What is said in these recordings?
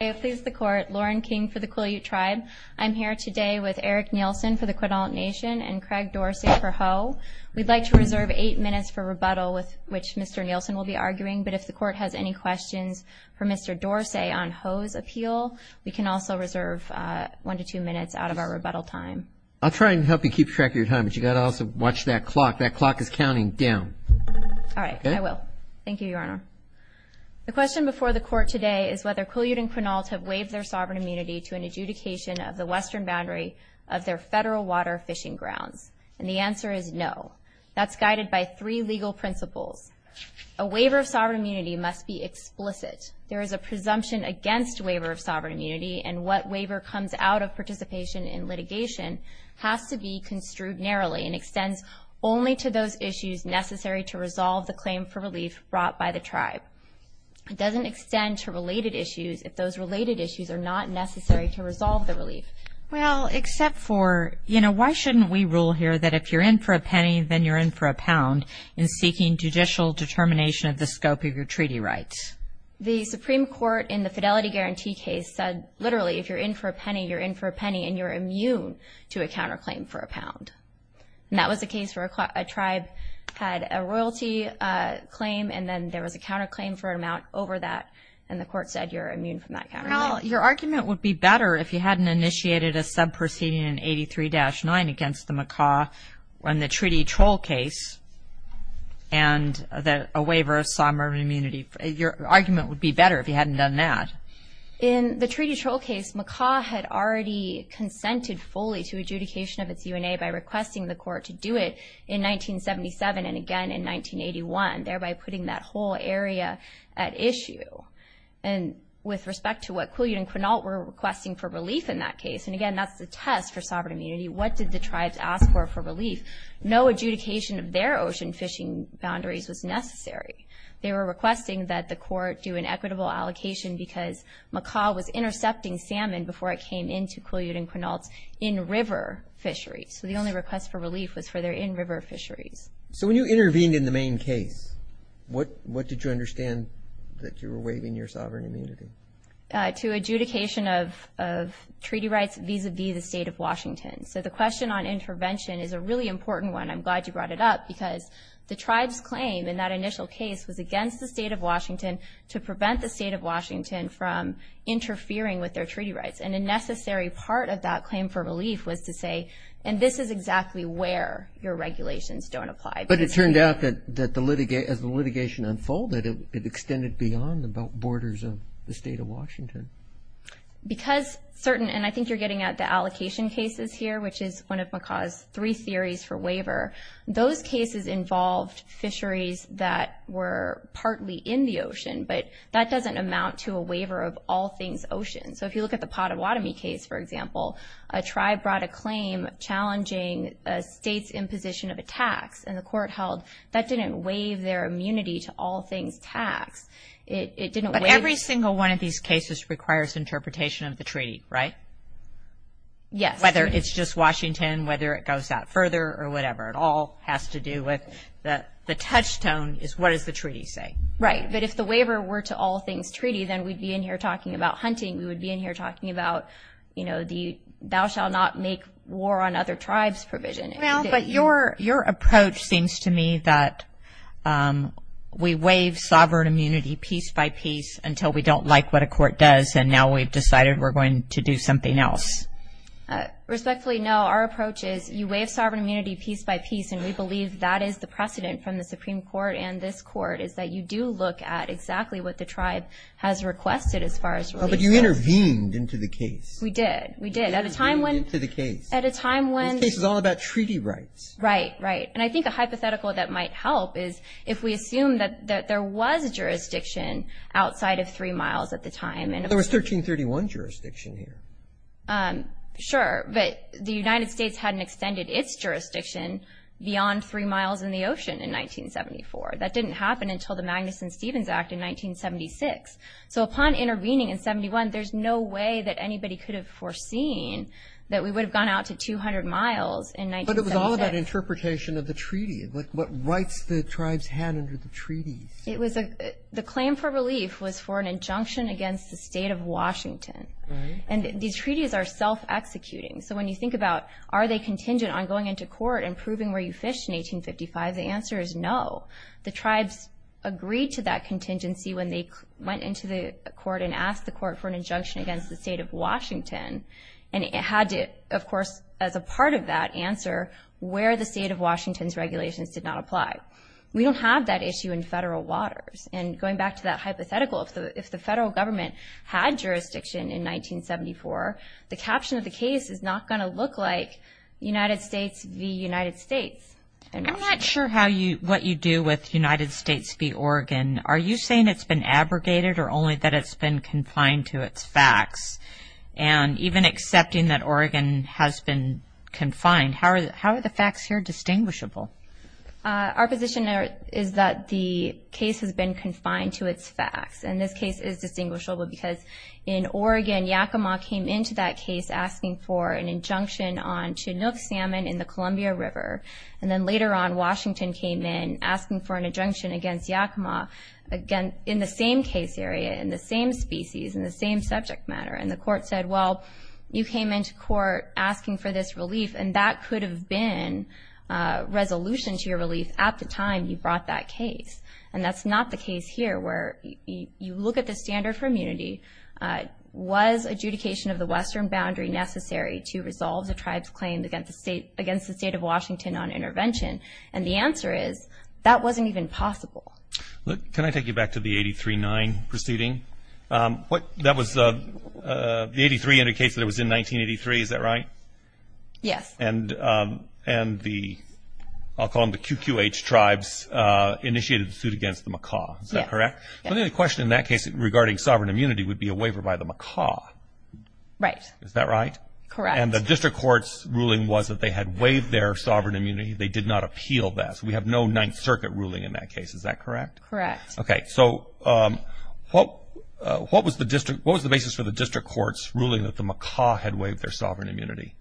Lauren King for the Quileute Tribe. I'm here today with Eric Nielsen for the Quinault Nation and Craig Dorsey for Hoh. We'd like to reserve eight minutes for rebuttal, with which Mr. Nielsen will be arguing, but if the court has any questions for Mr. Dorsey on Hoh's appeal, we can also reserve one to two minutes out of our rebuttal time. I'll try and help you keep track of your time, but you've got to also watch that clock. That clock is counting down. All right, I will. Thank you, Your Honor. The question before the court today is whether Quileute and Quinault have waived their sovereign immunity to an adjudication of the western boundary of their federal water fishing grounds, and the answer is no. That's guided by three legal principles. A waiver of sovereign immunity must be explicit. There is a presumption against waiver of sovereign immunity, and what waiver comes out of participation in litigation has to be construed narrowly and extends only to those issues necessary to resolve the claim for relief brought by the tribe. It doesn't extend to related issues if those related issues are not necessary to resolve the relief. Well, except for, you know, why shouldn't we rule here that if you're in for a penny, then you're in for a pound, in seeking judicial determination of the scope of your treaty rights? The Supreme Court, in the Fidelity Guarantee case, said literally if you're in for a penny, you're in for a penny, and you're immune to a counterclaim for a pound. And that was the case where a tribe had a royalty claim, and then there was a counterclaim for an amount over that, and the court said you're immune from that counterclaim. Well, your argument would be better if you hadn't initiated a sub proceeding in 83-9 against the Macaw in the Treaty Troll case, and a waiver of sovereign immunity. Your argument would be better if you hadn't done that. In the Treaty Troll case, Macaw had already consented fully to adjudication of its UNA by requesting the court to do it in 1977 and again in 1981, thereby putting that whole area at issue. And with respect to what Quillian and Quinault were requesting for relief in that case, and again that's the test for sovereign immunity, what did the tribes ask for for relief? No adjudication of their ocean fishing boundaries was necessary. They were requesting that the court do an equitable allocation because Macaw was intercepting salmon before it came into Quillian and Quinault's in-river fisheries. So the only request for relief was for their in-river fisheries. So when you intervened in the main case, what did you understand that you were waiving your sovereign immunity? To adjudication of treaty rights vis-à-vis the state of Washington. So the question on intervention is a really important one. I'm glad you brought it up because the tribes claim in that initial case was against the state of Washington to prevent the state of Washington from interfering with their treaty rights. And a necessary part of that claim for relief was to say, and this is exactly where your regulations don't apply. But it turned out that as the litigation unfolded, it extended beyond the borders of the state of Washington. Because certain, and I think you're getting at the allocation cases here, which is one of Macaw's three theories for waiver. Those cases involved fisheries that were partly in the ocean, but that doesn't amount to a waiver of all things ocean. So if you look at the Pottawatomie case, for example, a tribe brought a claim challenging a state's imposition of a tax, and the court held that didn't waive their immunity to all things tax. It didn't waive. But every single one of these cases requires interpretation of the treaty, right? Yes. Whether it's just Washington, whether it goes out further, or whatever. It all has to do with the touchstone is what does the treaty say? Right. But if the waiver were to all things treaty, then we'd be in here talking about hunting. We would be in here talking about, you know, thou shall not make war on other tribes provision. Well, but your approach seems to me that we waive sovereign immunity piece by piece until we don't like what a court does, and now we've decided we're going to do something else. Respectfully, no. Our approach is you waive sovereign immunity piece by piece, and we believe that is the precedent from the Supreme Court and this court, is that you do look at exactly what the tribe has requested as far as releases. Oh, but you intervened into the case. We did. We did. At a time when. You intervened into the case. At a time when. This case is all about treaty rights. Right, right. And I think a hypothetical that might help is if we assume that there was jurisdiction outside of three miles at the time. There was 1331 jurisdiction here. Sure, but the United States hadn't extended its jurisdiction beyond three miles in the ocean in 1974. That didn't happen until the Magnuson-Stevens Act in 1976. So upon intervening in 71, there's no way that anybody could have foreseen that we would have gone out to 200 miles in 1976. But it was all about interpretation of the treaty, what rights the tribes had under the treaty. The claim for relief was for an injunction against the state of Washington. Right. And these treaties are self-executing. So when you think about are they contingent on going into court and proving where you fished in 1855, the answer is no. The tribes agreed to that contingency when they went into the court And it had to, of course, as a part of that, answer where the state of Washington's regulations did not apply. We don't have that issue in federal waters. And going back to that hypothetical, if the federal government had jurisdiction in 1974, the caption of the case is not going to look like United States v. United States. I'm not sure what you do with United States v. Oregon. Are you saying it's been abrogated or only that it's been confined to its facts? And even accepting that Oregon has been confined, how are the facts here distinguishable? Our position is that the case has been confined to its facts. And this case is distinguishable because in Oregon, Yakima came into that case asking for an injunction on Chinook salmon in the Columbia River. And then later on, Washington came in asking for an injunction against Yakima in the same case area, in the same species, in the same subject matter. And the court said, well, you came into court asking for this relief, and that could have been resolution to your relief at the time you brought that case. And that's not the case here where you look at the standard for immunity. Was adjudication of the western boundary necessary to resolve the tribe's claim against the state of Washington on intervention? And the answer is that wasn't even possible. Can I take you back to the 83-9 proceeding? That was the 83 indicates that it was in 1983. Is that right? Yes. And the, I'll call them the QQH tribes, initiated a suit against the Macaw. Is that correct? Yes. The only question in that case regarding sovereign immunity would be a waiver by the Macaw. Right. Is that right? Correct. And the district court's ruling was that they had waived their sovereign immunity. They did not appeal that. So we have no Ninth Circuit ruling in that case. Is that correct? Correct. Okay. So what was the basis for the district court's ruling that the Macaw had waived their sovereign immunity?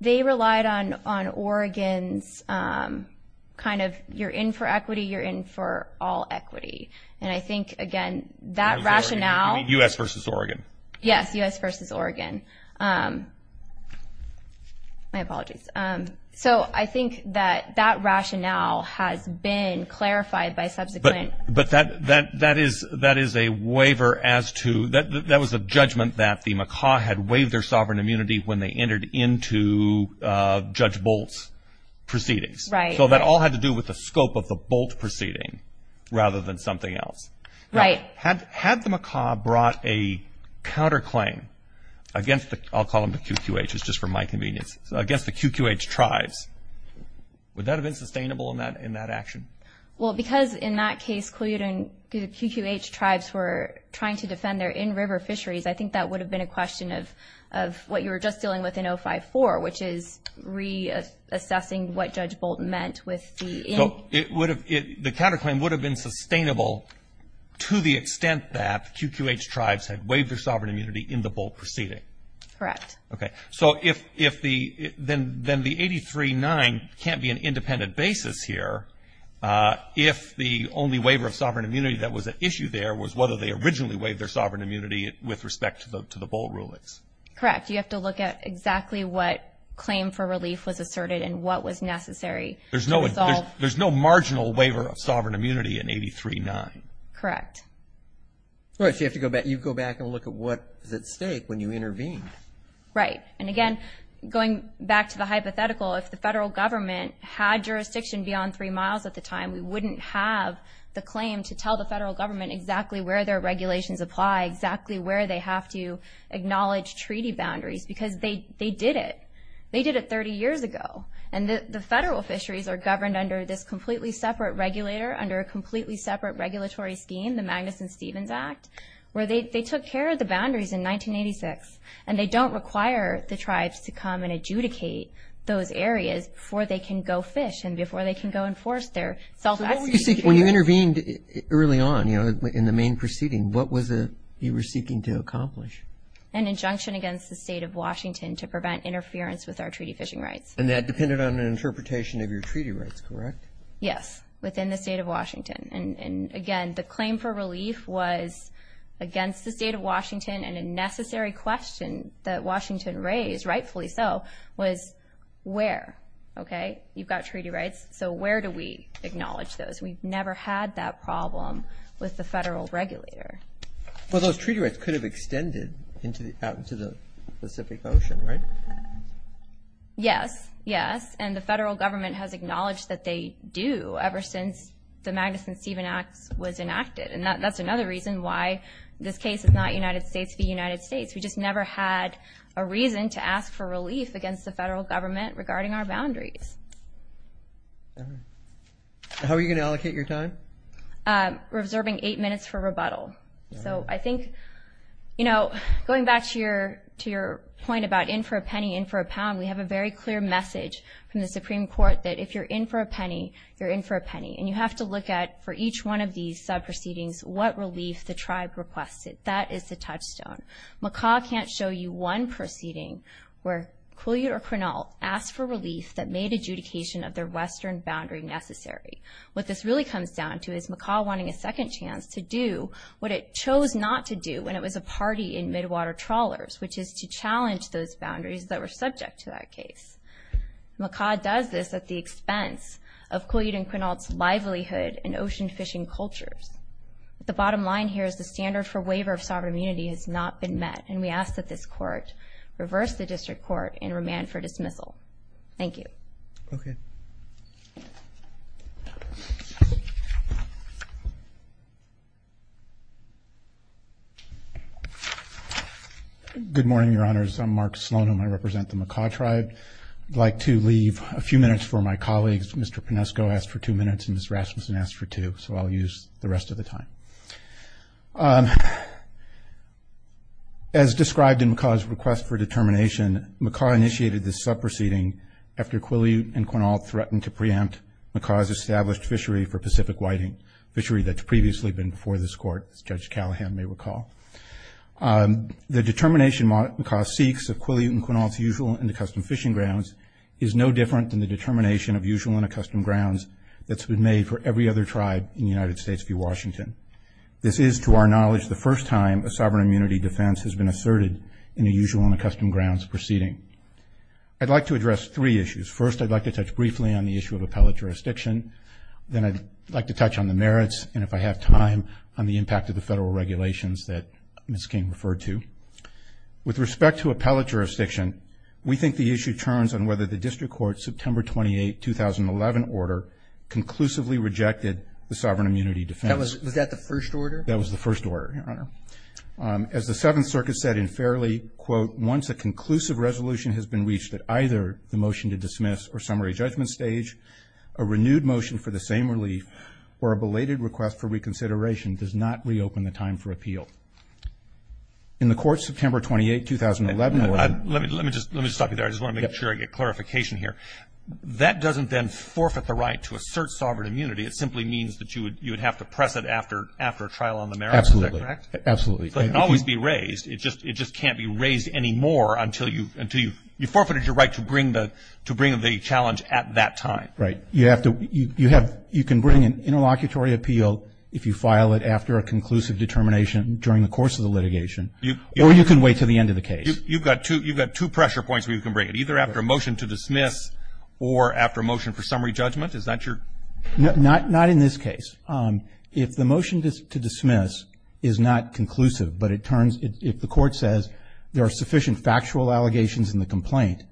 They relied on Oregon's kind of you're in for equity, you're in for all equity. And I think, again, that rationale. U.S. versus Oregon. Yes, U.S. versus Oregon. My apologies. So I think that that rationale has been clarified by subsequent. But that is a waiver as to, that was a judgment that the Macaw had waived their sovereign immunity when they entered into Judge Bolt's proceedings. Right. So that all had to do with the scope of the Bolt proceeding rather than something else. Right. Had the Macaw brought a counterclaim against the, I'll call them the QQHs just for my convenience, against the QQH tribes, would that have been sustainable in that action? Well, because in that case, the QQH tribes were trying to defend their in-river fisheries, I think that would have been a question of what you were just dealing with in 054, which is reassessing what Judge Bolt meant with the in. So it would have, the counterclaim would have been sustainable to the extent that QQH tribes had waived their sovereign immunity in the Bolt proceeding. Correct. Okay. So if the, then the 839 can't be an independent basis here if the only waiver of sovereign immunity that was at issue there was whether they originally waived their sovereign immunity with respect to the Bolt rulings. Correct. You have to look at exactly what claim for relief was asserted and what was necessary to resolve. There's no marginal waiver of sovereign immunity in 839. Correct. All right. So you have to go back and look at what is at stake when you intervene. Right. And again, going back to the hypothetical, if the federal government had jurisdiction beyond three miles at the time, we wouldn't have the claim to tell the federal government exactly where their regulations apply, exactly where they have to acknowledge treaty boundaries, because they did it. They did it 30 years ago. And the federal fisheries are governed under this completely separate regulator, under a completely separate regulatory scheme, the Magnuson-Stevens Act, where they took care of the boundaries in 1986, and they don't require the tribes to come and adjudicate those areas before they can go fish and before they can go enforce their self-execution. When you intervened early on, you know, in the main proceeding, what was it you were seeking to accomplish? An injunction against the state of Washington to prevent interference with our treaty fishing rights. And that depended on an interpretation of your treaty rights, correct? Yes, within the state of Washington. And, again, the claim for relief was against the state of Washington, and a necessary question that Washington raised, rightfully so, was where, okay? You've got treaty rights, so where do we acknowledge those? We've never had that problem with the federal regulator. Well, those treaty rights could have extended out into the Pacific Ocean, right? Yes, yes. And the federal government has acknowledged that they do ever since the Magnuson-Stevens Act was enacted. And that's another reason why this case is not United States v. United States. We just never had a reason to ask for relief against the federal government regarding our boundaries. How are you going to allocate your time? We're observing eight minutes for rebuttal. So I think, you know, going back to your point about in for a penny, in for a pound, we have a very clear message from the Supreme Court that if you're in for a penny, you're in for a penny. And you have to look at, for each one of these sub-proceedings, what relief the tribe requested. That is the touchstone. Macaw can't show you one proceeding where Quileute or Quinault asked for relief that made adjudication of their western boundary necessary. What this really comes down to is Macaw wanting a second chance to do what it chose not to do when it was a party in midwater trawlers, which is to challenge those boundaries that were subject to that case. Macaw does this at the expense of Quileute and Quinault's livelihood and ocean fishing cultures. The bottom line here is the standard for waiver of sovereign immunity has not been met, and we ask that this Court reverse the district court and remand for dismissal. Thank you. Okay. Good morning, Your Honors. I'm Mark Sloan, and I represent the Macaw Tribe. I'd like to leave a few minutes for my colleagues. Mr. Pinesco asked for two minutes and Ms. Rasmussen asked for two, so I'll use the rest of the time. As described in Macaw's request for determination, Macaw initiated this sub-proceeding after Quileute and Quinault threatened to preempt Macaw's established fishery for Pacific Whiting, fishery that's previously been before this Court, as Judge Callahan may recall. The determination Macaw seeks of Quileute and Quinault's usual and accustomed fishing grounds is no different than the determination of usual and accustomed grounds that's been made for every other tribe in the United States via Washington. This is, to our knowledge, the first time a sovereign immunity defense has been asserted in a usual and accustomed grounds proceeding. I'd like to address three issues. First, I'd like to touch briefly on the issue of appellate jurisdiction. Then I'd like to touch on the merits, and if I have time, on the impact of the federal regulations that Ms. King referred to. With respect to appellate jurisdiction, we think the issue turns on whether the district court's September 28, 2011 order conclusively rejected the sovereign immunity defense. Was that the first order? That was the first order, Your Honor. As the Seventh Circuit said in Fairley, quote, once a conclusive resolution has been reached at either the motion to dismiss or summary judgment stage, a renewed motion for the same relief or a belated request for reconsideration does not reopen the time for appeal. In the court's September 28, 2011 order. Let me just stop you there. I just want to make sure I get clarification here. That doesn't then forfeit the right to assert sovereign immunity. It simply means that you would have to press it after a trial on the merits. Is that correct? Absolutely. It can always be raised. It just can't be raised anymore until you've forfeited your right to bring the challenge at that time. Right. You can bring an interlocutory appeal if you file it after a conclusive determination during the course of the litigation, or you can wait until the end of the case. You've got two pressure points where you can bring it, either after a motion to dismiss or after a motion for summary judgment. Is that your? Not in this case. If the motion to dismiss is not conclusive, but it turns if the court says there are sufficient factual allegations in the complaint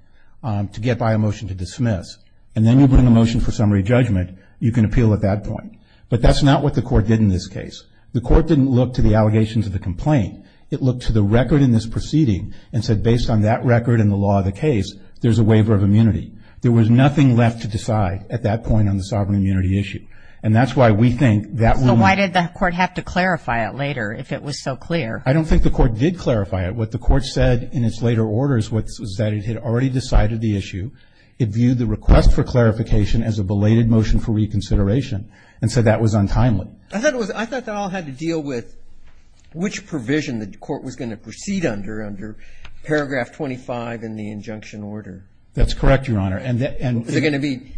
to get by a motion to dismiss, and then you bring a motion for summary judgment, you can appeal at that point. But that's not what the court did in this case. The court didn't look to the allegations of the complaint. It looked to the record in this proceeding and said, based on that record and the law of the case, there's a waiver of immunity. There was nothing left to decide at that point on the sovereign immunity issue. And that's why we think that will not. So why did the court have to clarify it later if it was so clear? I don't think the court did clarify it. What the court said in its later orders was that it had already decided the issue. It viewed the request for clarification as a belated motion for reconsideration and said that was untimely. I thought that all had to deal with which provision the court was going to proceed under, under paragraph 25 in the injunction order. That's correct, Your Honor. Is it going to be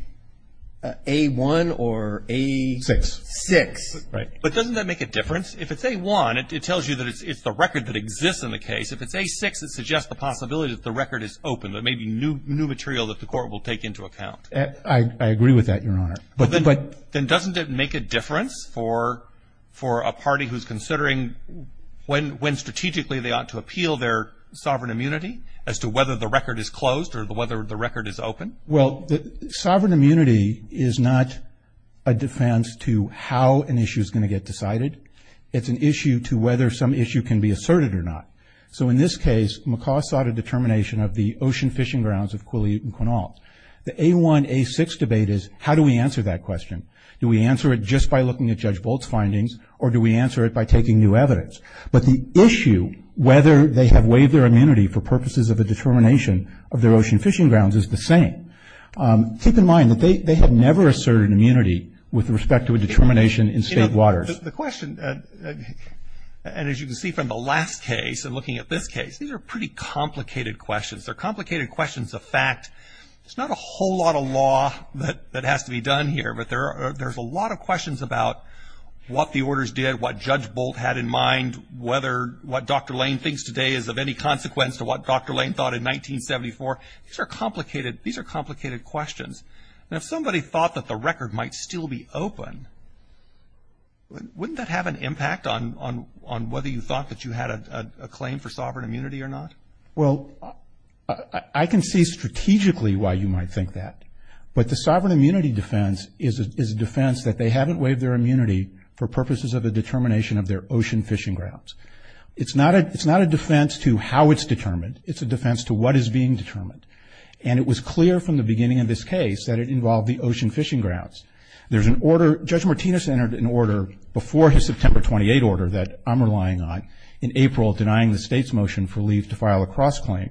A-1 or A-6? Six. Right. But doesn't that make a difference? If it's A-1, it tells you that it's the record that exists in the case. If it's A-6, it suggests the possibility that the record is open. It may be new material that the court will take into account. I agree with that, Your Honor. But then doesn't it make a difference for a party who's considering when strategically they ought to appeal their sovereign immunity as to whether the record is closed or whether the record is open? Well, sovereign immunity is not a defense to how an issue is going to get decided. It's an issue to whether some issue can be asserted or not. So in this case, McCaw sought a determination of the ocean fishing grounds of Quileute and Quinault. The A-1, A-6 debate is how do we answer that question? Do we answer it just by looking at Judge Bolt's findings or do we answer it by taking new evidence? But the issue whether they have waived their immunity for purposes of a determination of their ocean fishing grounds is the same. Keep in mind that they have never asserted immunity with respect to a determination in state waters. The question, and as you can see from the last case and looking at this case, these are pretty complicated questions. They're complicated questions of fact. There's not a whole lot of law that has to be done here, but there's a lot of questions about what the orders did, what Judge Bolt had in mind, whether what Dr. Lane thinks today is of any consequence to what Dr. Lane thought in 1974. These are complicated questions. And if somebody thought that the record might still be open, wouldn't that have an impact on whether you thought that you had a claim for sovereign immunity or not? Well, I can see strategically why you might think that. But the sovereign immunity defense is a defense that they haven't waived their immunity for purposes of a determination of their ocean fishing grounds. It's not a defense to how it's determined. It's a defense to what is being determined. And it was clear from the beginning of this case that it involved the ocean fishing grounds. There's an order, Judge Martinez entered an order before his September 28 order that I'm relying on, in April denying the state's motion for leave to file a cross-claim.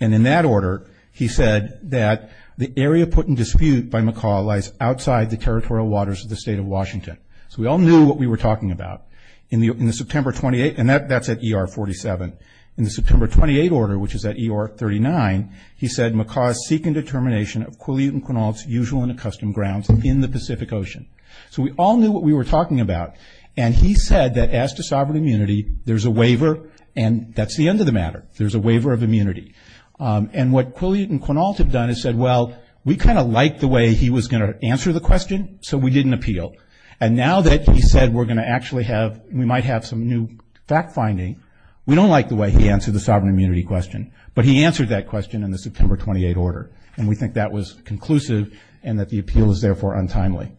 And in that order, he said that the area put in dispute by McCall lies outside the territorial waters of the state of Washington. So we all knew what we were talking about. In the September 28, and that's at ER 47. In the September 28 order, which is at ER 39, he said McCall is seeking determination of Quileute and Quinault's usual and accustomed grounds in the Pacific Ocean. So we all knew what we were talking about. And he said that as to sovereign immunity, there's a waiver, and that's the end of the matter. There's a waiver of immunity. And what Quileute and Quinault have done is said, well, we kind of liked the way he was going to answer the question, so we didn't appeal. And now that he said we're going to actually have, we might have some new fact-finding, we don't like the way he answered the sovereign immunity question. But he answered that question in the September 28 order. And we think that was conclusive and that the appeal is, therefore, untimely.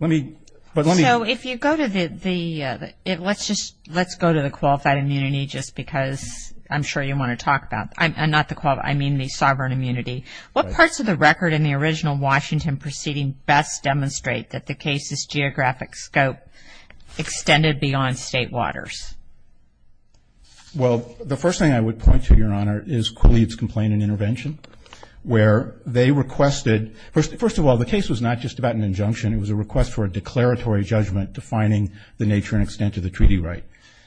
Let me, but let me. So if you go to the, let's just, let's go to the qualified immunity just because I'm sure you want to talk about, not the qualified, I mean the sovereign immunity. What parts of the record in the original Washington proceeding best demonstrate that the case's geographic scope extended beyond state waters? Well, the first thing I would point to, Your Honor, is Quileute's complaint and intervention, where they requested, first of all, the case was not just about an injunction. It was a request for a declaratory judgment defining the nature and extent of the treaty right.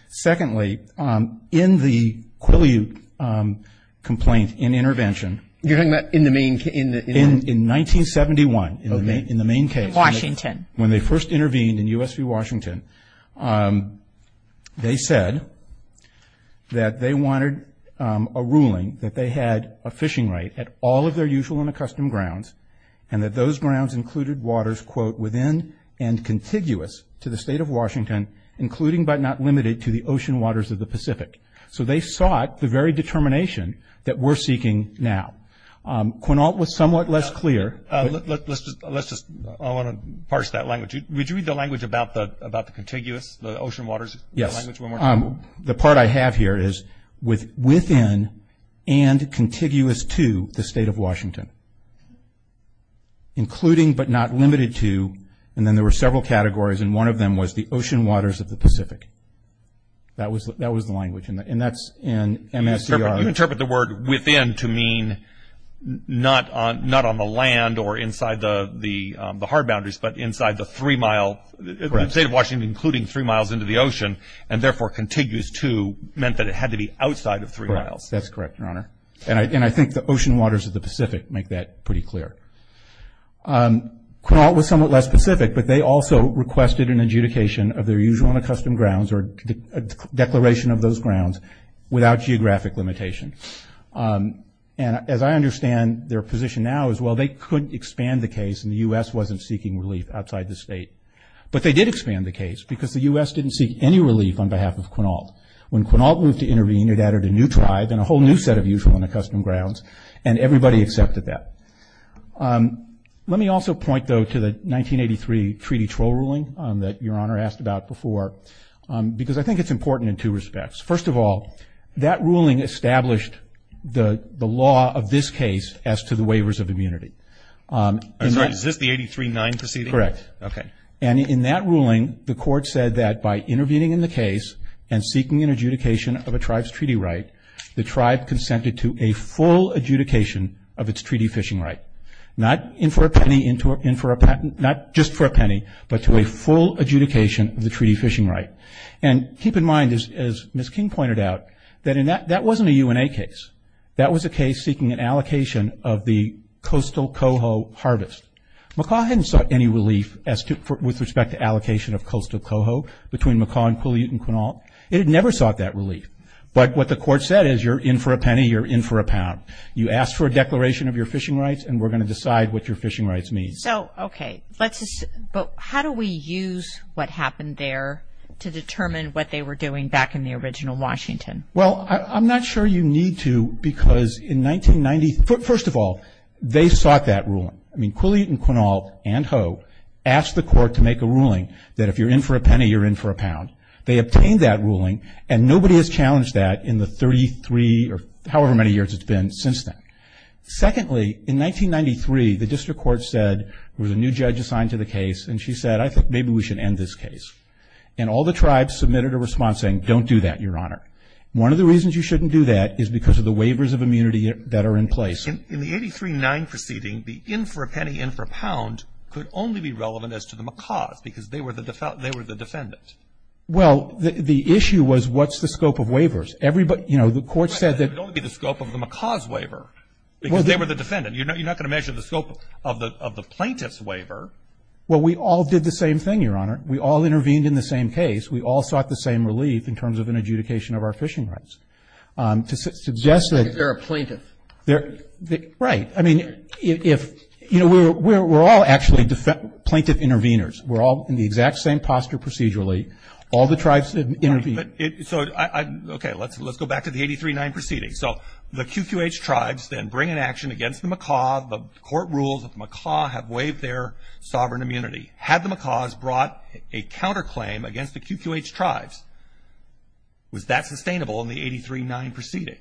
Secondly, in the Quileute complaint and intervention. You're talking about in the main case? In 1971, in the main case. Washington. When they first intervened in U.S. v. Washington, they said that they wanted a ruling that they had a fishing right at all of their usual and accustomed grounds and that those grounds included waters, quote, within and contiguous to the State of Washington, including but not limited to the ocean waters of the Pacific. So they sought the very determination that we're seeking now. Quileute was somewhat less clear. Let's just, I want to parse that language. Would you read the language about the contiguous, the ocean waters? Yes. The part I have here is within and contiguous to the State of Washington, including but not limited to, and then there were several categories, and one of them was the ocean waters of the Pacific. That was the language, and that's in MSER. You interpret the word within to mean not on the land or inside the hard boundaries, but inside the three-mile, the State of Washington including three miles into the ocean, and therefore contiguous to meant that it had to be outside of three miles. That's correct, Your Honor. And I think the ocean waters of the Pacific make that pretty clear. Quileute was somewhat less specific, but they also requested an adjudication of their usual and accustomed grounds or a declaration of those grounds without geographic limitation. And as I understand their position now is, well, they couldn't expand the case, and the U.S. wasn't seeking relief outside the state. But they did expand the case because the U.S. didn't seek any relief on behalf of Quinault. When Quinault moved to intervene, it added a new tribe and a whole new set of usual and accustomed grounds, and everybody accepted that. Let me also point, though, to the 1983 Treaty Troll Ruling that Your Honor asked about before, because I think it's important in two respects. First of all, that ruling established the law of this case as to the waivers of immunity. I'm sorry. Is this the 83-9 proceeding? Correct. Okay. And in that ruling, the Court said that by intervening in the case and seeking an adjudication of a tribe's treaty right, the tribe consented to a full adjudication of its treaty fishing right. Not in for a penny, in for a patent, not just for a penny, but to a full adjudication of the treaty fishing right. And keep in mind, as Ms. King pointed out, that that wasn't a UNA case. That was a case seeking an allocation of the coastal coho harvest. Macaw hadn't sought any relief with respect to allocation of coastal coho between Macaw and Quinault. It had never sought that relief. But what the Court said is you're in for a penny, you're in for a pound. You ask for a declaration of your fishing rights, and we're going to decide what your fishing rights mean. So, okay. But how do we use what happened there to determine what they were doing back in the original Washington? Well, I'm not sure you need to, because in 1990, first of all, they sought that ruling. I mean, Quilley and Quinault and Hoe asked the Court to make a ruling They obtained that ruling, and nobody has challenged that in the 33 or however many years it's been since then. Secondly, in 1993, the District Court said there was a new judge assigned to the case, and she said, I think maybe we should end this case. And all the tribes submitted a response saying, don't do that, Your Honor. One of the reasons you shouldn't do that is because of the waivers of immunity that are in place. In the 83-9 proceeding, the in for a penny, in for a pound could only be relevant as to the Macaws, because they were the defendant. Well, the issue was, what's the scope of waivers? Everybody, you know, the Court said that It would only be the scope of the Macaws waiver, because they were the defendant. You're not going to measure the scope of the plaintiff's waiver. Well, we all did the same thing, Your Honor. We all intervened in the same case. We all sought the same relief in terms of an adjudication of our fishing rights. To suggest that They're a plaintiff. Right. I mean, if, you know, we're all actually plaintiff interveners. We're all in the exact same posture procedurally. All the tribes intervened. So, okay, let's go back to the 83-9 proceeding. So the QQH tribes then bring an action against the Macaw. The Court rules that the Macaw have waived their sovereign immunity. Had the Macaws brought a counterclaim against the QQH tribes, was that sustainable in the 83-9 proceeding?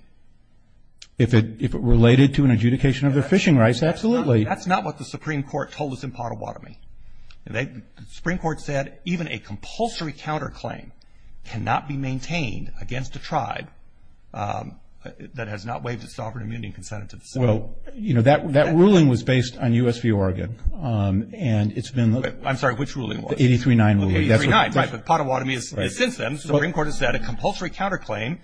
If it related to an adjudication of their fishing rights, absolutely. That's not what the Supreme Court told us in Pottawatomie. The Supreme Court said even a compulsory counterclaim cannot be maintained against a tribe that has not waived its sovereign immunity and consented to the settlement. Well, you know, that ruling was based on U.S. v. Oregon. And it's been the I'm sorry, which ruling was it? The 83-9 ruling. The 83-9, right. But Pottawatomie is since then. The Supreme Court has said a compulsory counterclaim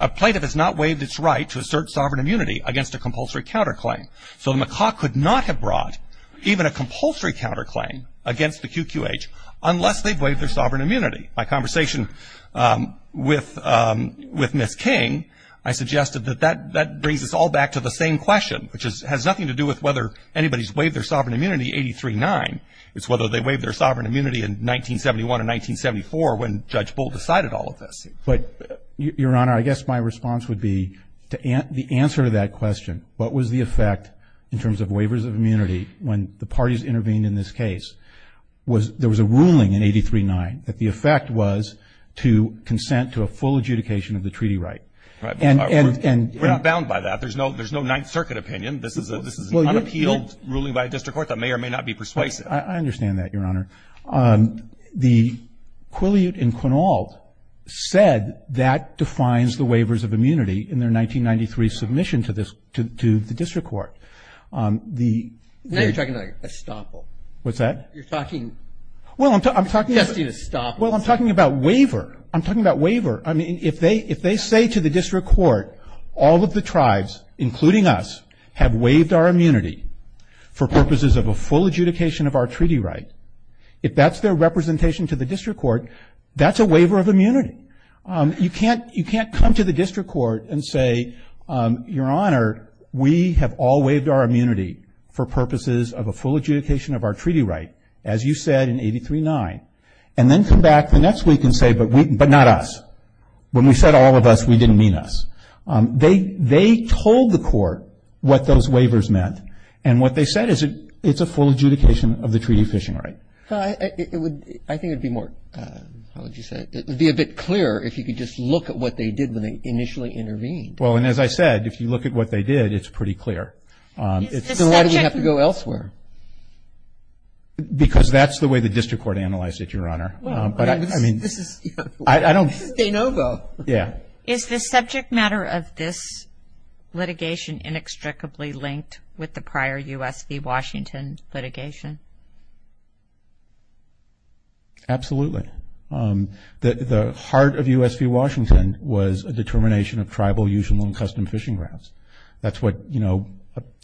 A plaintiff has not waived its right to assert sovereign immunity against a compulsory counterclaim. So the Macaw could not have brought even a compulsory counterclaim against the QQH unless they've waived their sovereign immunity. My conversation with Ms. King, I suggested that that brings us all back to the same question, which has nothing to do with whether anybody's waived their sovereign immunity in 83-9. It's whether they waived their sovereign immunity in 1971 and 1974 when Judge Bull decided all of this. But, Your Honor, I guess my response would be the answer to that question, what was the effect in terms of waivers of immunity when the parties intervened in this case? There was a ruling in 83-9 that the effect was to consent to a full adjudication of the treaty right. We're not bound by that. There's no Ninth Circuit opinion. This is an unappealed ruling by a district court that may or may not be persuasive. I understand that, Your Honor. The Quileute and Quinault said that defines the waivers of immunity in their 1993 submission to the district court. Now you're talking about estoppel. What's that? You're talking, you're testing estoppel. Well, I'm talking about waiver. I'm talking about waiver. I mean, if they say to the district court, all of the tribes, including us, have waived our immunity for purposes of a full adjudication of our treaty right, if that's their representation to the district court, that's a waiver of immunity. You can't come to the district court and say, Your Honor, we have all waived our immunity for purposes of a full adjudication of our treaty right, as you said in 83-9, and then come back the next week and say, but not us. When we said all of us, we didn't mean us. They told the court what those waivers meant, and what they said is it's a full adjudication of the treaty fishing right. I think it would be more, how would you say it, it would be a bit clearer if you could just look at what they did when they initially intervened. Well, and as I said, if you look at what they did, it's pretty clear. So why do we have to go elsewhere? Because that's the way the district court analyzed it, Your Honor. This is de novo. Yeah. Is the subject matter of this litigation inextricably linked with the prior U.S. v. Washington litigation? Absolutely. The heart of U.S. v. Washington was a determination of tribal, usual, and custom fishing grounds. That's what, you know,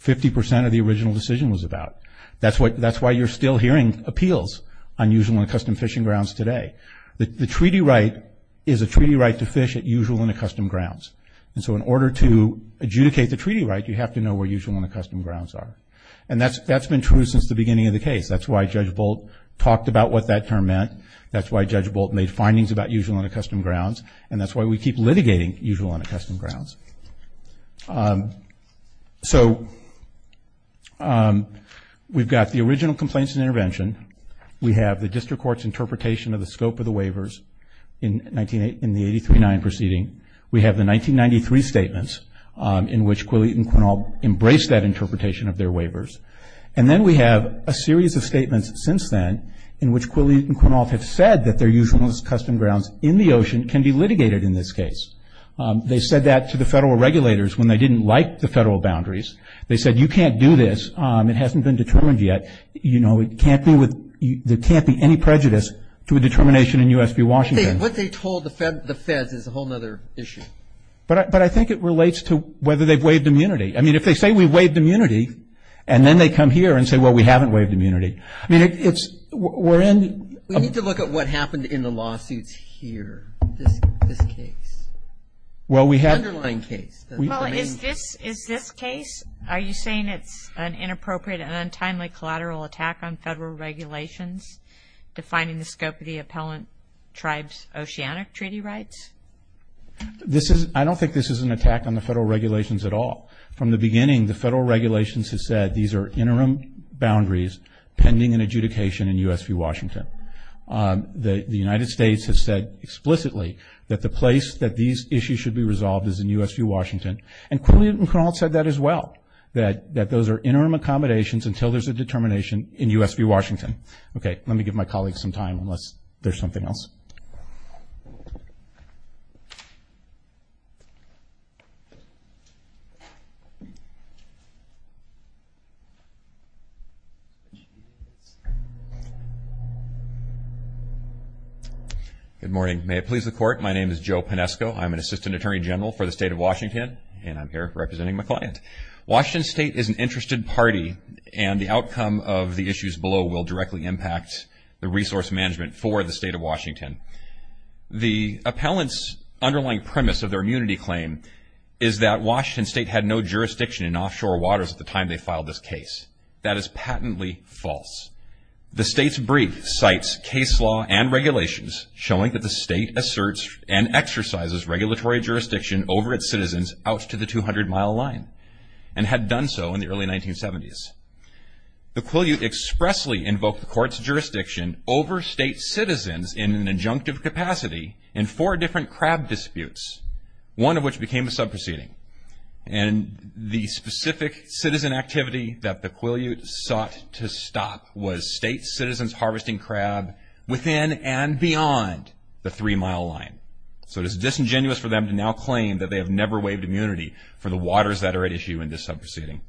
50% of the original decision was about. That's why you're still hearing appeals on usual and custom fishing grounds today. The treaty right is a treaty right to fish at usual and custom grounds. And so in order to adjudicate the treaty right, you have to know where usual and custom grounds are. And that's been true since the beginning of the case. That's why Judge Bolt talked about what that term meant. That's why Judge Bolt made findings about usual and custom grounds. And that's why we keep litigating usual and custom grounds. So we've got the original complaints and intervention. We have the district court's interpretation of the scope of the waivers in the 83-9 proceeding. We have the 1993 statements in which Quilley and Quinault embraced that interpretation of their waivers. And then we have a series of statements since then in which Quilley and Quinault have said that their usual and custom grounds in the ocean can be litigated in this case. They said that to the federal regulators when they didn't like the federal boundaries. They said, You can't do this. It hasn't been determined yet. You know, there can't be any prejudice to a determination in U.S. v. Washington. What they told the feds is a whole other issue. But I think it relates to whether they've waived immunity. I mean, if they say we've waived immunity and then they come here and say, Well, we haven't waived immunity. I mean, it's we're in. We need to look at what happened in the lawsuits here, this case. Well, we have. The underlying case. Is this case? Are you saying it's an inappropriate and untimely collateral attack on federal regulations defining the scope of the appellant tribe's oceanic treaty rights? I don't think this is an attack on the federal regulations at all. From the beginning, the federal regulations have said these are interim boundaries pending in adjudication in U.S. v. Washington. The United States has said explicitly that the place that these issues should be resolved is in U.S. v. Washington. And Quinlan et al. said that as well, that those are interim accommodations until there's a determination in U.S. v. Washington. Okay. Let me give my colleagues some time unless there's something else. Good morning. May it please the Court. My name is Joe Pinesco. I'm an Assistant Attorney General for the State of Washington, and I'm here representing my client. Washington State is an interested party, and the outcome of the issues below will directly impact the resource management for the State of Washington. The appellant's underlying premise of their immunity claim is that Washington State had no jurisdiction in offshore waters at the time they filed this case. That is patently false. The State's brief cites case law and regulations showing that the State asserts and exercises regulatory jurisdiction over its citizens out to the 200-mile line and had done so in the early 1970s. The Quileute expressly invoked the Court's jurisdiction over State citizens in an injunctive capacity in four different crab disputes, one of which became a subproceeding. And the specific citizen activity that the Quileute sought to stop was State citizens harvesting crab within and beyond the three-mile line. So it is disingenuous for them to now claim that they have never waived immunity for the waters that are at issue in this subproceeding.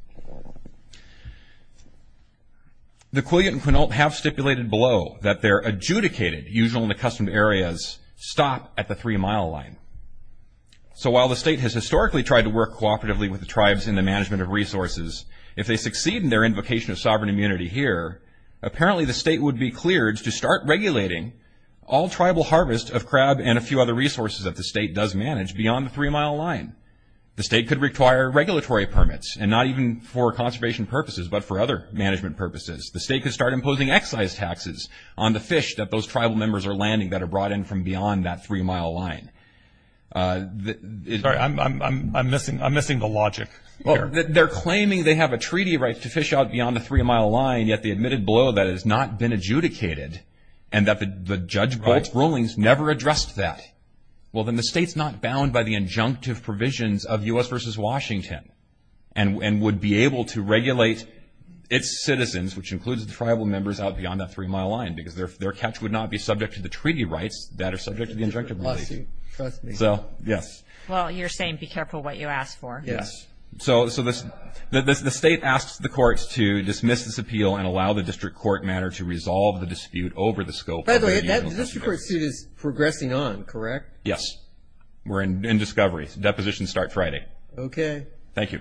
The Quileute and Quinault have stipulated below that their adjudicated, usual and accustomed areas, stop at the three-mile line. So while the State has historically tried to work cooperatively with the tribes in the management of resources, if they succeed in their invocation of sovereign immunity here, apparently the State would be cleared to start regulating all tribal harvest of crab and a few other resources that the State does manage beyond the three-mile line. The State could require regulatory permits, and not even for conservation purposes but for other management purposes. The State could start imposing excise taxes on the fish that those tribal members are landing that are brought in from beyond that three-mile line. Sorry, I'm missing the logic here. They're claiming they have a treaty right to fish out beyond the three-mile line, yet they admitted below that it has not been adjudicated and that the judge's rulings never addressed that. Well, then the State's not bound by the injunctive provisions of U.S. v. Washington and would be able to regulate its citizens, which includes the tribal members, because their catch would not be subject to the treaty rights that are subject to the injunctive. So, yes. Well, you're saying be careful what you ask for. Yes. So, the State asks the courts to dismiss this appeal and allow the district court matter to resolve the dispute over the scope of the judicial process. By the way, the district court suit is progressing on, correct? Yes. We're in discovery. Depositions start Friday. Okay. Thank you.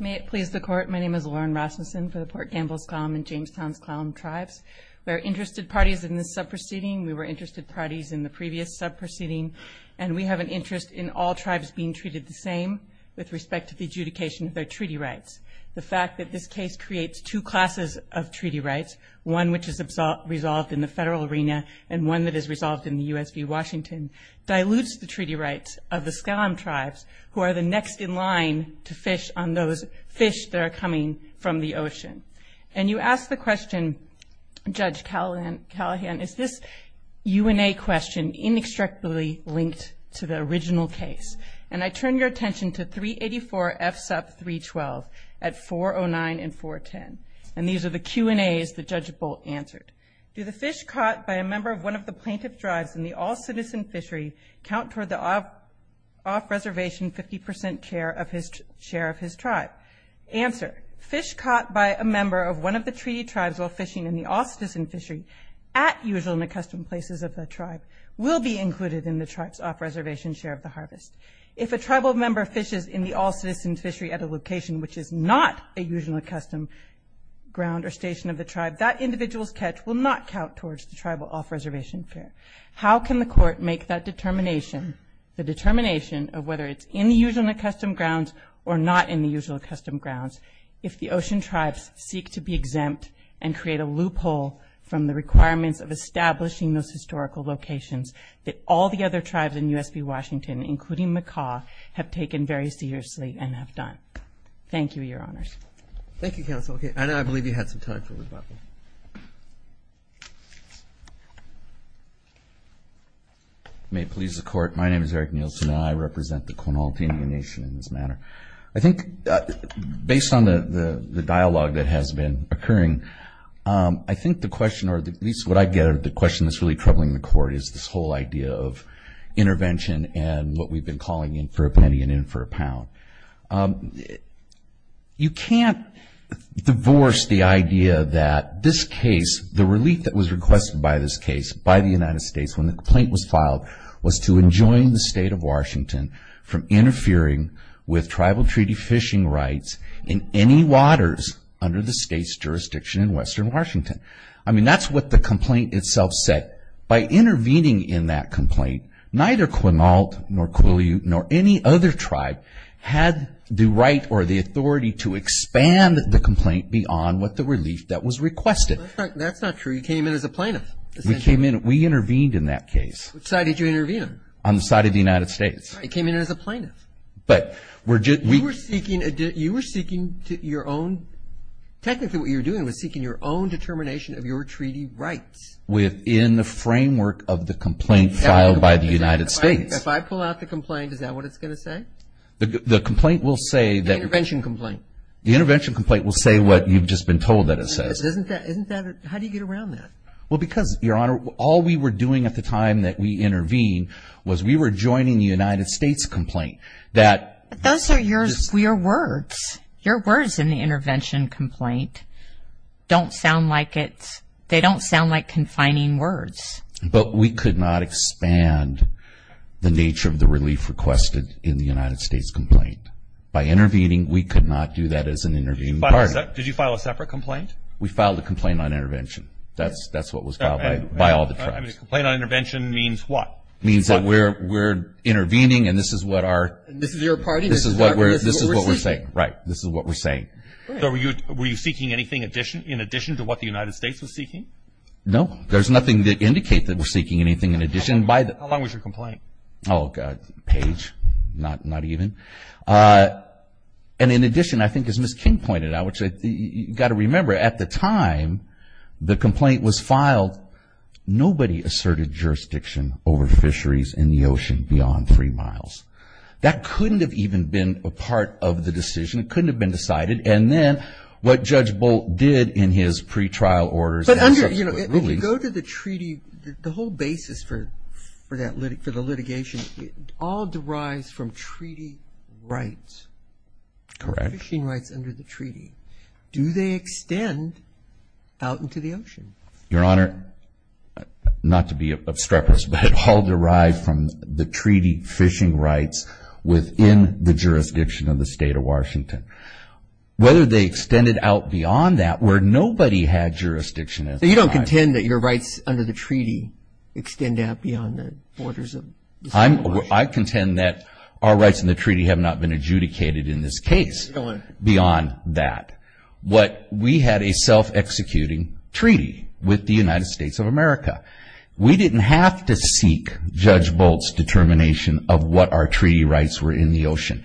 May it please the Court. My name is Lauren Rasmussen for the Port Gamble-Skallam and Jamestown-Skallam Tribes. We're interested parties in this sub-proceeding. We were interested parties in the previous sub-proceeding, and we have an interest in all tribes being treated the same with respect to the adjudication of their treaty rights. The fact that this case creates two classes of treaty rights, one which is resolved in the federal arena and one that is resolved in the U.S. v. Washington, dilutes the treaty rights of the Skallam Tribes, who are the next in line to fish on those fish that are coming from the ocean. And you asked the question, Judge Callahan, is this UNA question inextricably linked to the original case? And I turn your attention to 384F sub 312 at 409 and 410. And these are the Q&As that Judge Bolt answered. Do the fish caught by a member of one of the plaintiff's tribes in the all-citizen fishery count toward the off-reservation 50% share of his tribe? Answer. Fish caught by a member of one of the treaty tribes while fishing in the all-citizen fishery at usual and accustomed places of the tribe will be included in the tribe's off-reservation share of the harvest. If a tribal member fishes in the all-citizen fishery at a location which is not a usual accustomed ground or station of the tribe, that individual's catch will not count towards the tribal off-reservation share. How can the court make that determination, the determination of whether it's in the usual and accustomed grounds or not in the usual and accustomed grounds, if the ocean tribes seek to be exempt and create a loophole from the requirements of establishing those historical locations that all the other tribes in USB Washington, including Macaw, have taken very seriously and have done? Thank you, Your Honors. Thank you, Counsel. Okay. Anna, I believe you had some time for rebuttal. May it please the Court, my name is Eric Nielsen and I represent the Quinaultinian Nation in this matter. I think based on the dialogue that has been occurring, I think the question or at least what I get, the question that's really troubling the Court is this whole idea of intervention You can't divorce the idea that this case, the relief that was requested by this case by the United States when the complaint was filed was to enjoin the state of Washington from interfering with tribal treaty fishing rights in any waters under the state's jurisdiction in western Washington. I mean, that's what the complaint itself said. By intervening in that complaint, neither Quinault, nor Quileute, nor any other tribe had the right or the authority to expand the complaint beyond what the relief that was requested. That's not true. You came in as a plaintiff. We intervened in that case. Which side did you intervene on? On the side of the United States. You came in as a plaintiff. But we're just You were seeking your own, technically what you were doing was seeking your own determination of your treaty rights. Within the framework of the complaint filed by the United States. If I pull out the complaint, is that what it's going to say? The complaint will say that The intervention complaint. The intervention complaint will say what you've just been told that it says. How do you get around that? Well, because, Your Honor, all we were doing at the time that we intervened was we were joining the United States complaint. Those are your words. Your words in the intervention complaint don't sound like it's they don't sound like confining words. But we could not expand the nature of the relief requested in the United States complaint. By intervening, we could not do that as an intervening party. Did you file a separate complaint? We filed a complaint on intervention. That's what was filed by all the tribes. A complaint on intervention means what? It means that we're intervening and this is what our This is your party? This is what we're saying. Right. This is what we're saying. Were you seeking anything in addition to what the United States was seeking? No. There's nothing to indicate that we're seeking anything in addition. How long was your complaint? Oh, God. A page. Not even. And in addition, I think as Ms. King pointed out, which you've got to remember, at the time the complaint was filed, nobody asserted jurisdiction over fisheries in the ocean beyond three miles. That couldn't have even been a part of the decision. It couldn't have been decided. And then what Judge Bolt did in his pretrial orders and subsequent rulings. But under, you know, if you go to the treaty, the whole basis for the litigation, it all derives from treaty rights. Correct. Fishing rights under the treaty. Do they extend out into the ocean? Your Honor, not to be obstreperous, but all derive from the treaty fishing rights within the jurisdiction of the whether they extended out beyond that where nobody had jurisdiction at the time. So you don't contend that your rights under the treaty extend out beyond the borders of the ocean? I contend that our rights in the treaty have not been adjudicated in this case beyond that. What we had a self-executing treaty with the United States of America. We didn't have to seek Judge Bolt's determination of what our treaty rights were in the ocean.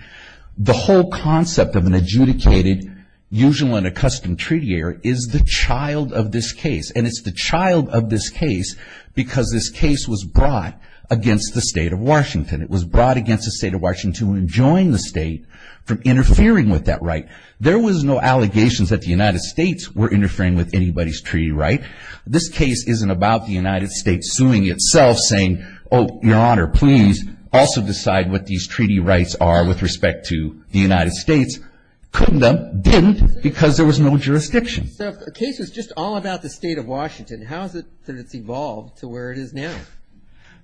The whole concept of an adjudicated, usual and accustomed treaty heir is the child of this case. And it's the child of this case because this case was brought against the state of Washington. It was brought against the state of Washington to enjoin the state from interfering with that right. There was no allegations that the United States were interfering with anybody's treaty right. This case isn't about the United States suing itself saying, oh, your honor, please also decide what these treaty rights are with respect to the United States. Couldn't have. Didn't because there was no jurisdiction. So the case was just all about the state of Washington. How is it that it's evolved to where it is now?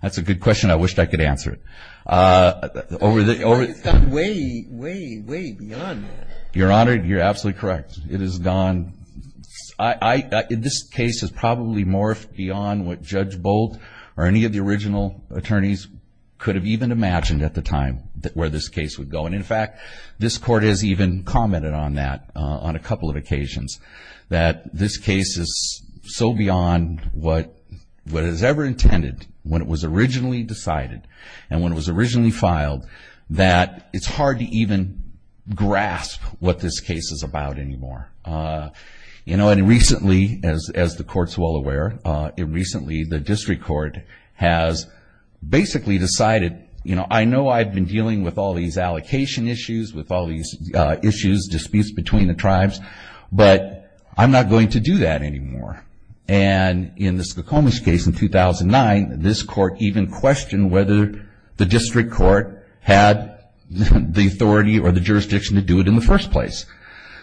That's a good question. I wish I could answer it. It's gone way, way, way beyond that. Your honor, you're absolutely correct. It has gone. This case has probably morphed beyond what Judge Boldt or any of the original attorneys could have even imagined at the time where this case would go. And, in fact, this court has even commented on that on a couple of occasions, that this case is so beyond what it was ever intended when it was originally decided and when it was originally filed that it's hard to even grasp what this case is about anymore. You know, and recently, as the court's well aware, recently the district court has basically decided, you know, I know I've been dealing with all these allocation issues, with all these issues, disputes between the tribes, but I'm not going to do that anymore. And in the Skokomis case in 2009, this court even questioned whether the district court had the authority or the jurisdiction to do it in the first place.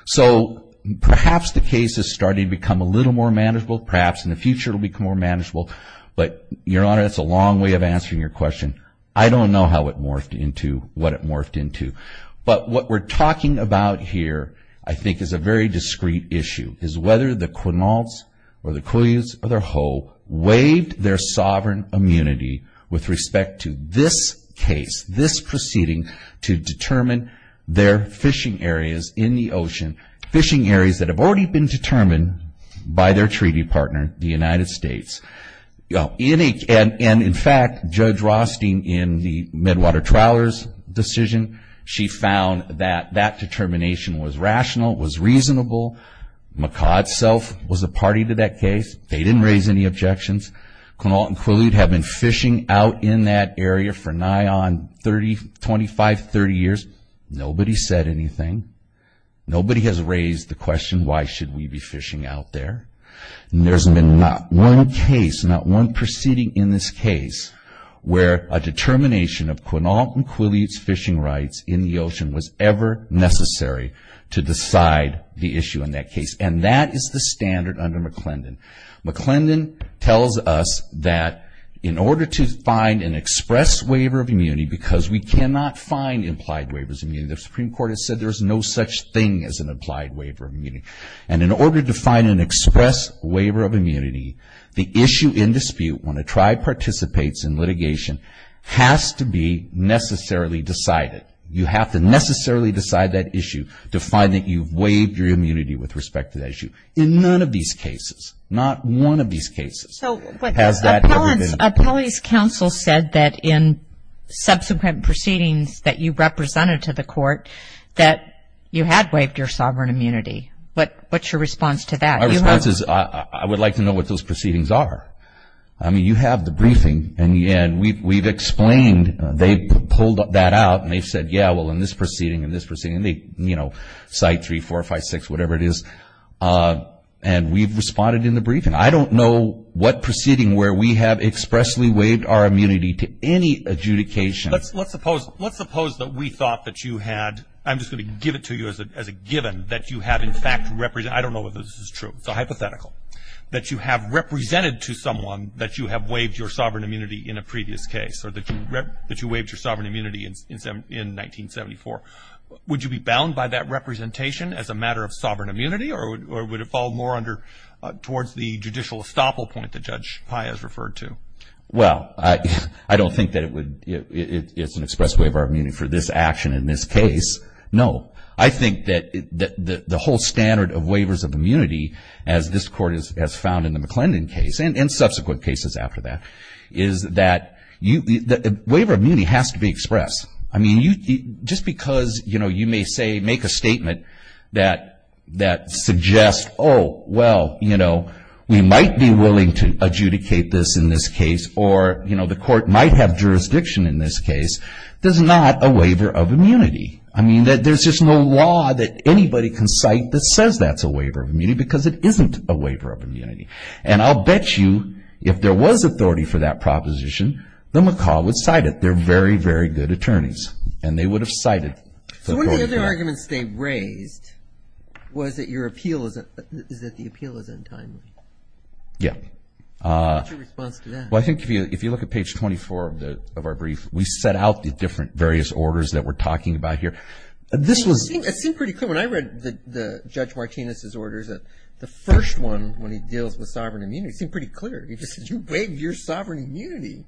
So perhaps the case is starting to become a little more manageable. Perhaps in the future it will become more manageable. But, your honor, that's a long way of answering your question. I don't know how it morphed into what it morphed into. But what we're talking about here, I think, is a very discreet issue. It's whether the Kwinauts or the Kuius or the Ho waived their sovereign immunity with respect to this case, this proceeding to determine their fishing areas in the ocean, fishing areas that have already been determined by their treaty partner, the United States. And, in fact, Judge Rothstein, in the Medwater Trowlers decision, she found that that determination was rational, was reasonable. McCaw itself was a party to that case. They didn't raise any objections. Kwinaut and Kwiliut have been fishing out in that area for nigh on 25, 30 years. Nobody said anything. Nobody has raised the question, why should we be fishing out there? And there's been not one case, not one proceeding in this case, where a determination of Kwinaut and Kwiliut's fishing rights in the ocean was ever necessary to decide the issue in that case. And that is the standard under McClendon. McClendon tells us that in order to find an express waiver of immunity, because we cannot find implied waivers of immunity, the Supreme Court has said there is no such thing as an implied waiver of immunity. And in order to find an express waiver of immunity, the issue in dispute, when a tribe participates in litigation, has to be necessarily decided. You have to necessarily decide that issue to find that you've waived your immunity with respect to that issue. In none of these cases, not one of these cases, has that ever been. So Appellee's counsel said that in subsequent proceedings that you represented to the court that you had waived your sovereign immunity. What's your response to that? My response is I would like to know what those proceedings are. I mean, you have the briefing, and we've explained, they've pulled that out, and they've said, yeah, well, in this proceeding, in this proceeding, they, you know, cite 3, 4, 5, 6, whatever it is. And we've responded in the briefing. I don't know what proceeding where we have expressly waived our immunity to any adjudication. Let's suppose that we thought that you had, I'm just going to give it to you as a given, that you have in fact represented, I don't know if this is true, it's a hypothetical, that you have represented to someone that you have waived your sovereign immunity in a previous case, or that you waived your sovereign immunity in 1974. Would you be bound by that representation as a matter of sovereign immunity, or would it fall more under towards the judicial estoppel point that Judge Pai has referred to? Well, I don't think that it would, it's an express waiver of immunity for this action in this case. No. I think that the whole standard of waivers of immunity, as this court has found in the McClendon case, and in subsequent cases after that, is that the waiver of immunity has to be expressed. I mean, just because, you know, you may say, make a statement that suggests, oh, well, you know, we might be willing to adjudicate this in this case, or, you know, the court might have jurisdiction in this case, does not a waiver of immunity. I mean, there's just no law that anybody can cite that says that's a waiver of immunity, because it isn't a waiver of immunity. And I'll bet you if there was authority for that proposition, then McCall would cite it. They're very, very good attorneys, and they would have cited it. So one of the other arguments they raised was that your appeal is that the appeal is untimely. Yeah. What's your response to that? Well, I think if you look at page 24 of our brief, we set out the different various orders that we're talking about here. This was – You know, when I read Judge Martinez's orders, the first one when he deals with sovereign immunity seemed pretty clear. He just said, you waive your sovereign immunity.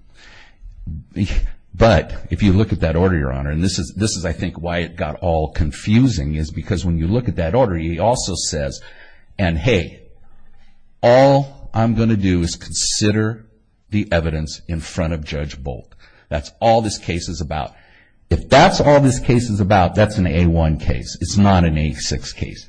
But if you look at that order, Your Honor, and this is I think why it got all confusing is because when you look at that order, he also says, and hey, all I'm going to do is consider the evidence in front of Judge Bolt. That's all this case is about. If that's all this case is about, that's an A1 case. It's not an A6 case.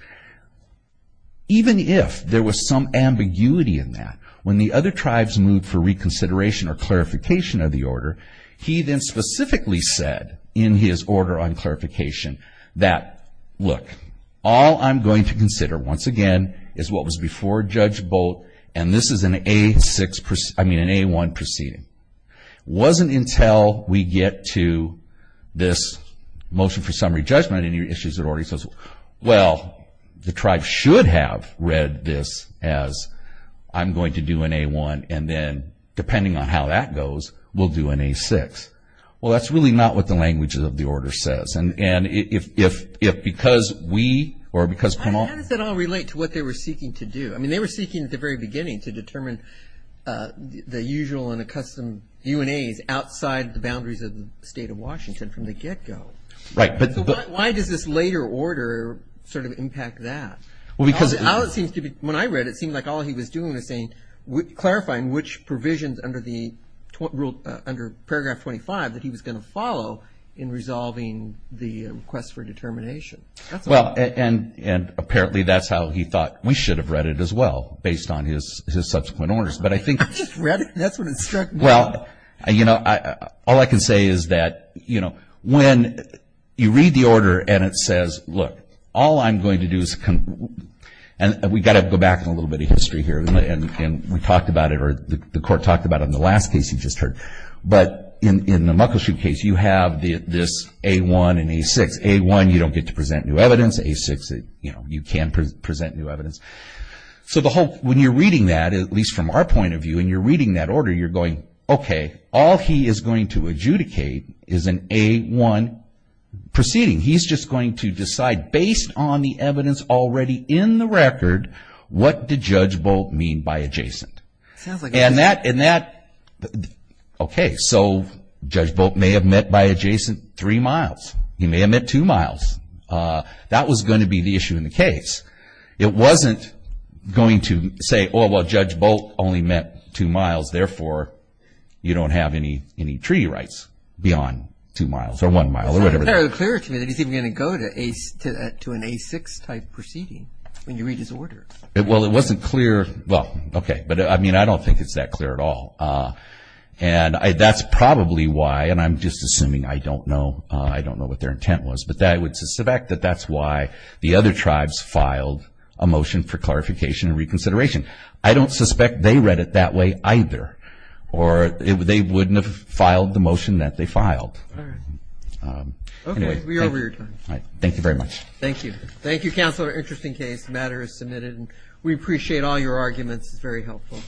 Even if there was some ambiguity in that, when the other tribes moved for reconsideration or clarification of the order, he then specifically said in his order on clarification that, look, all I'm going to consider, once again, is what was before Judge Bolt, and this is an A6 – I mean an A1 proceeding. It wasn't until we get to this motion for summary judgment and your issues are already – well, the tribe should have read this as I'm going to do an A1 and then depending on how that goes, we'll do an A6. Well, that's really not what the language of the order says. And if because we or because – How does that all relate to what they were seeking to do? I mean they were seeking at the very beginning to determine the usual and accustomed UNAs outside the boundaries of the state of Washington from the get-go. Right. So why does this later order sort of impact that? Well, because – When I read it, it seemed like all he was doing was saying – clarifying which provisions under Paragraph 25 that he was going to follow in resolving the request for determination. Well, and apparently that's how he thought we should have read it as well, based on his subsequent orders. But I think – I just read it. That's what it struck me. Well, you know, all I can say is that, you know, when you read the order and it says, look, all I'm going to do is – and we've got to go back in a little bit of history here and we talked about it or the Court talked about it in the last case you just heard. But in the Muckleshoot case, you have this A1 and A6. A1, you don't get to present new evidence. A6, you know, you can present new evidence. So the whole – when you're reading that, at least from our point of view, and you're reading that order, you're going, okay, all he is going to adjudicate is an A1 proceeding. He's just going to decide, based on the evidence already in the record, what did Judge Bolt mean by adjacent. And that – okay, so Judge Bolt may have meant by adjacent three miles. He may have meant two miles. That was going to be the issue in the case. It wasn't going to say, oh, well, Judge Bolt only meant two miles, therefore you don't have any treaty rights beyond two miles or one mile or whatever. It's not very clear to me that he's even going to go to an A6-type proceeding when you read his order. Well, it wasn't clear – well, okay. But, I mean, I don't think it's that clear at all. And that's probably why – and I'm just assuming. I don't know. I don't know what their intent was. But I would suspect that that's why the other tribes filed a motion for clarification and reconsideration. I don't suspect they read it that way either, or they wouldn't have filed the motion that they filed. All right. Okay. We are over your time. Thank you very much. Thank you. Thank you, Counselor. Interesting case. The matter is submitted, and we appreciate all your arguments. It's very helpful.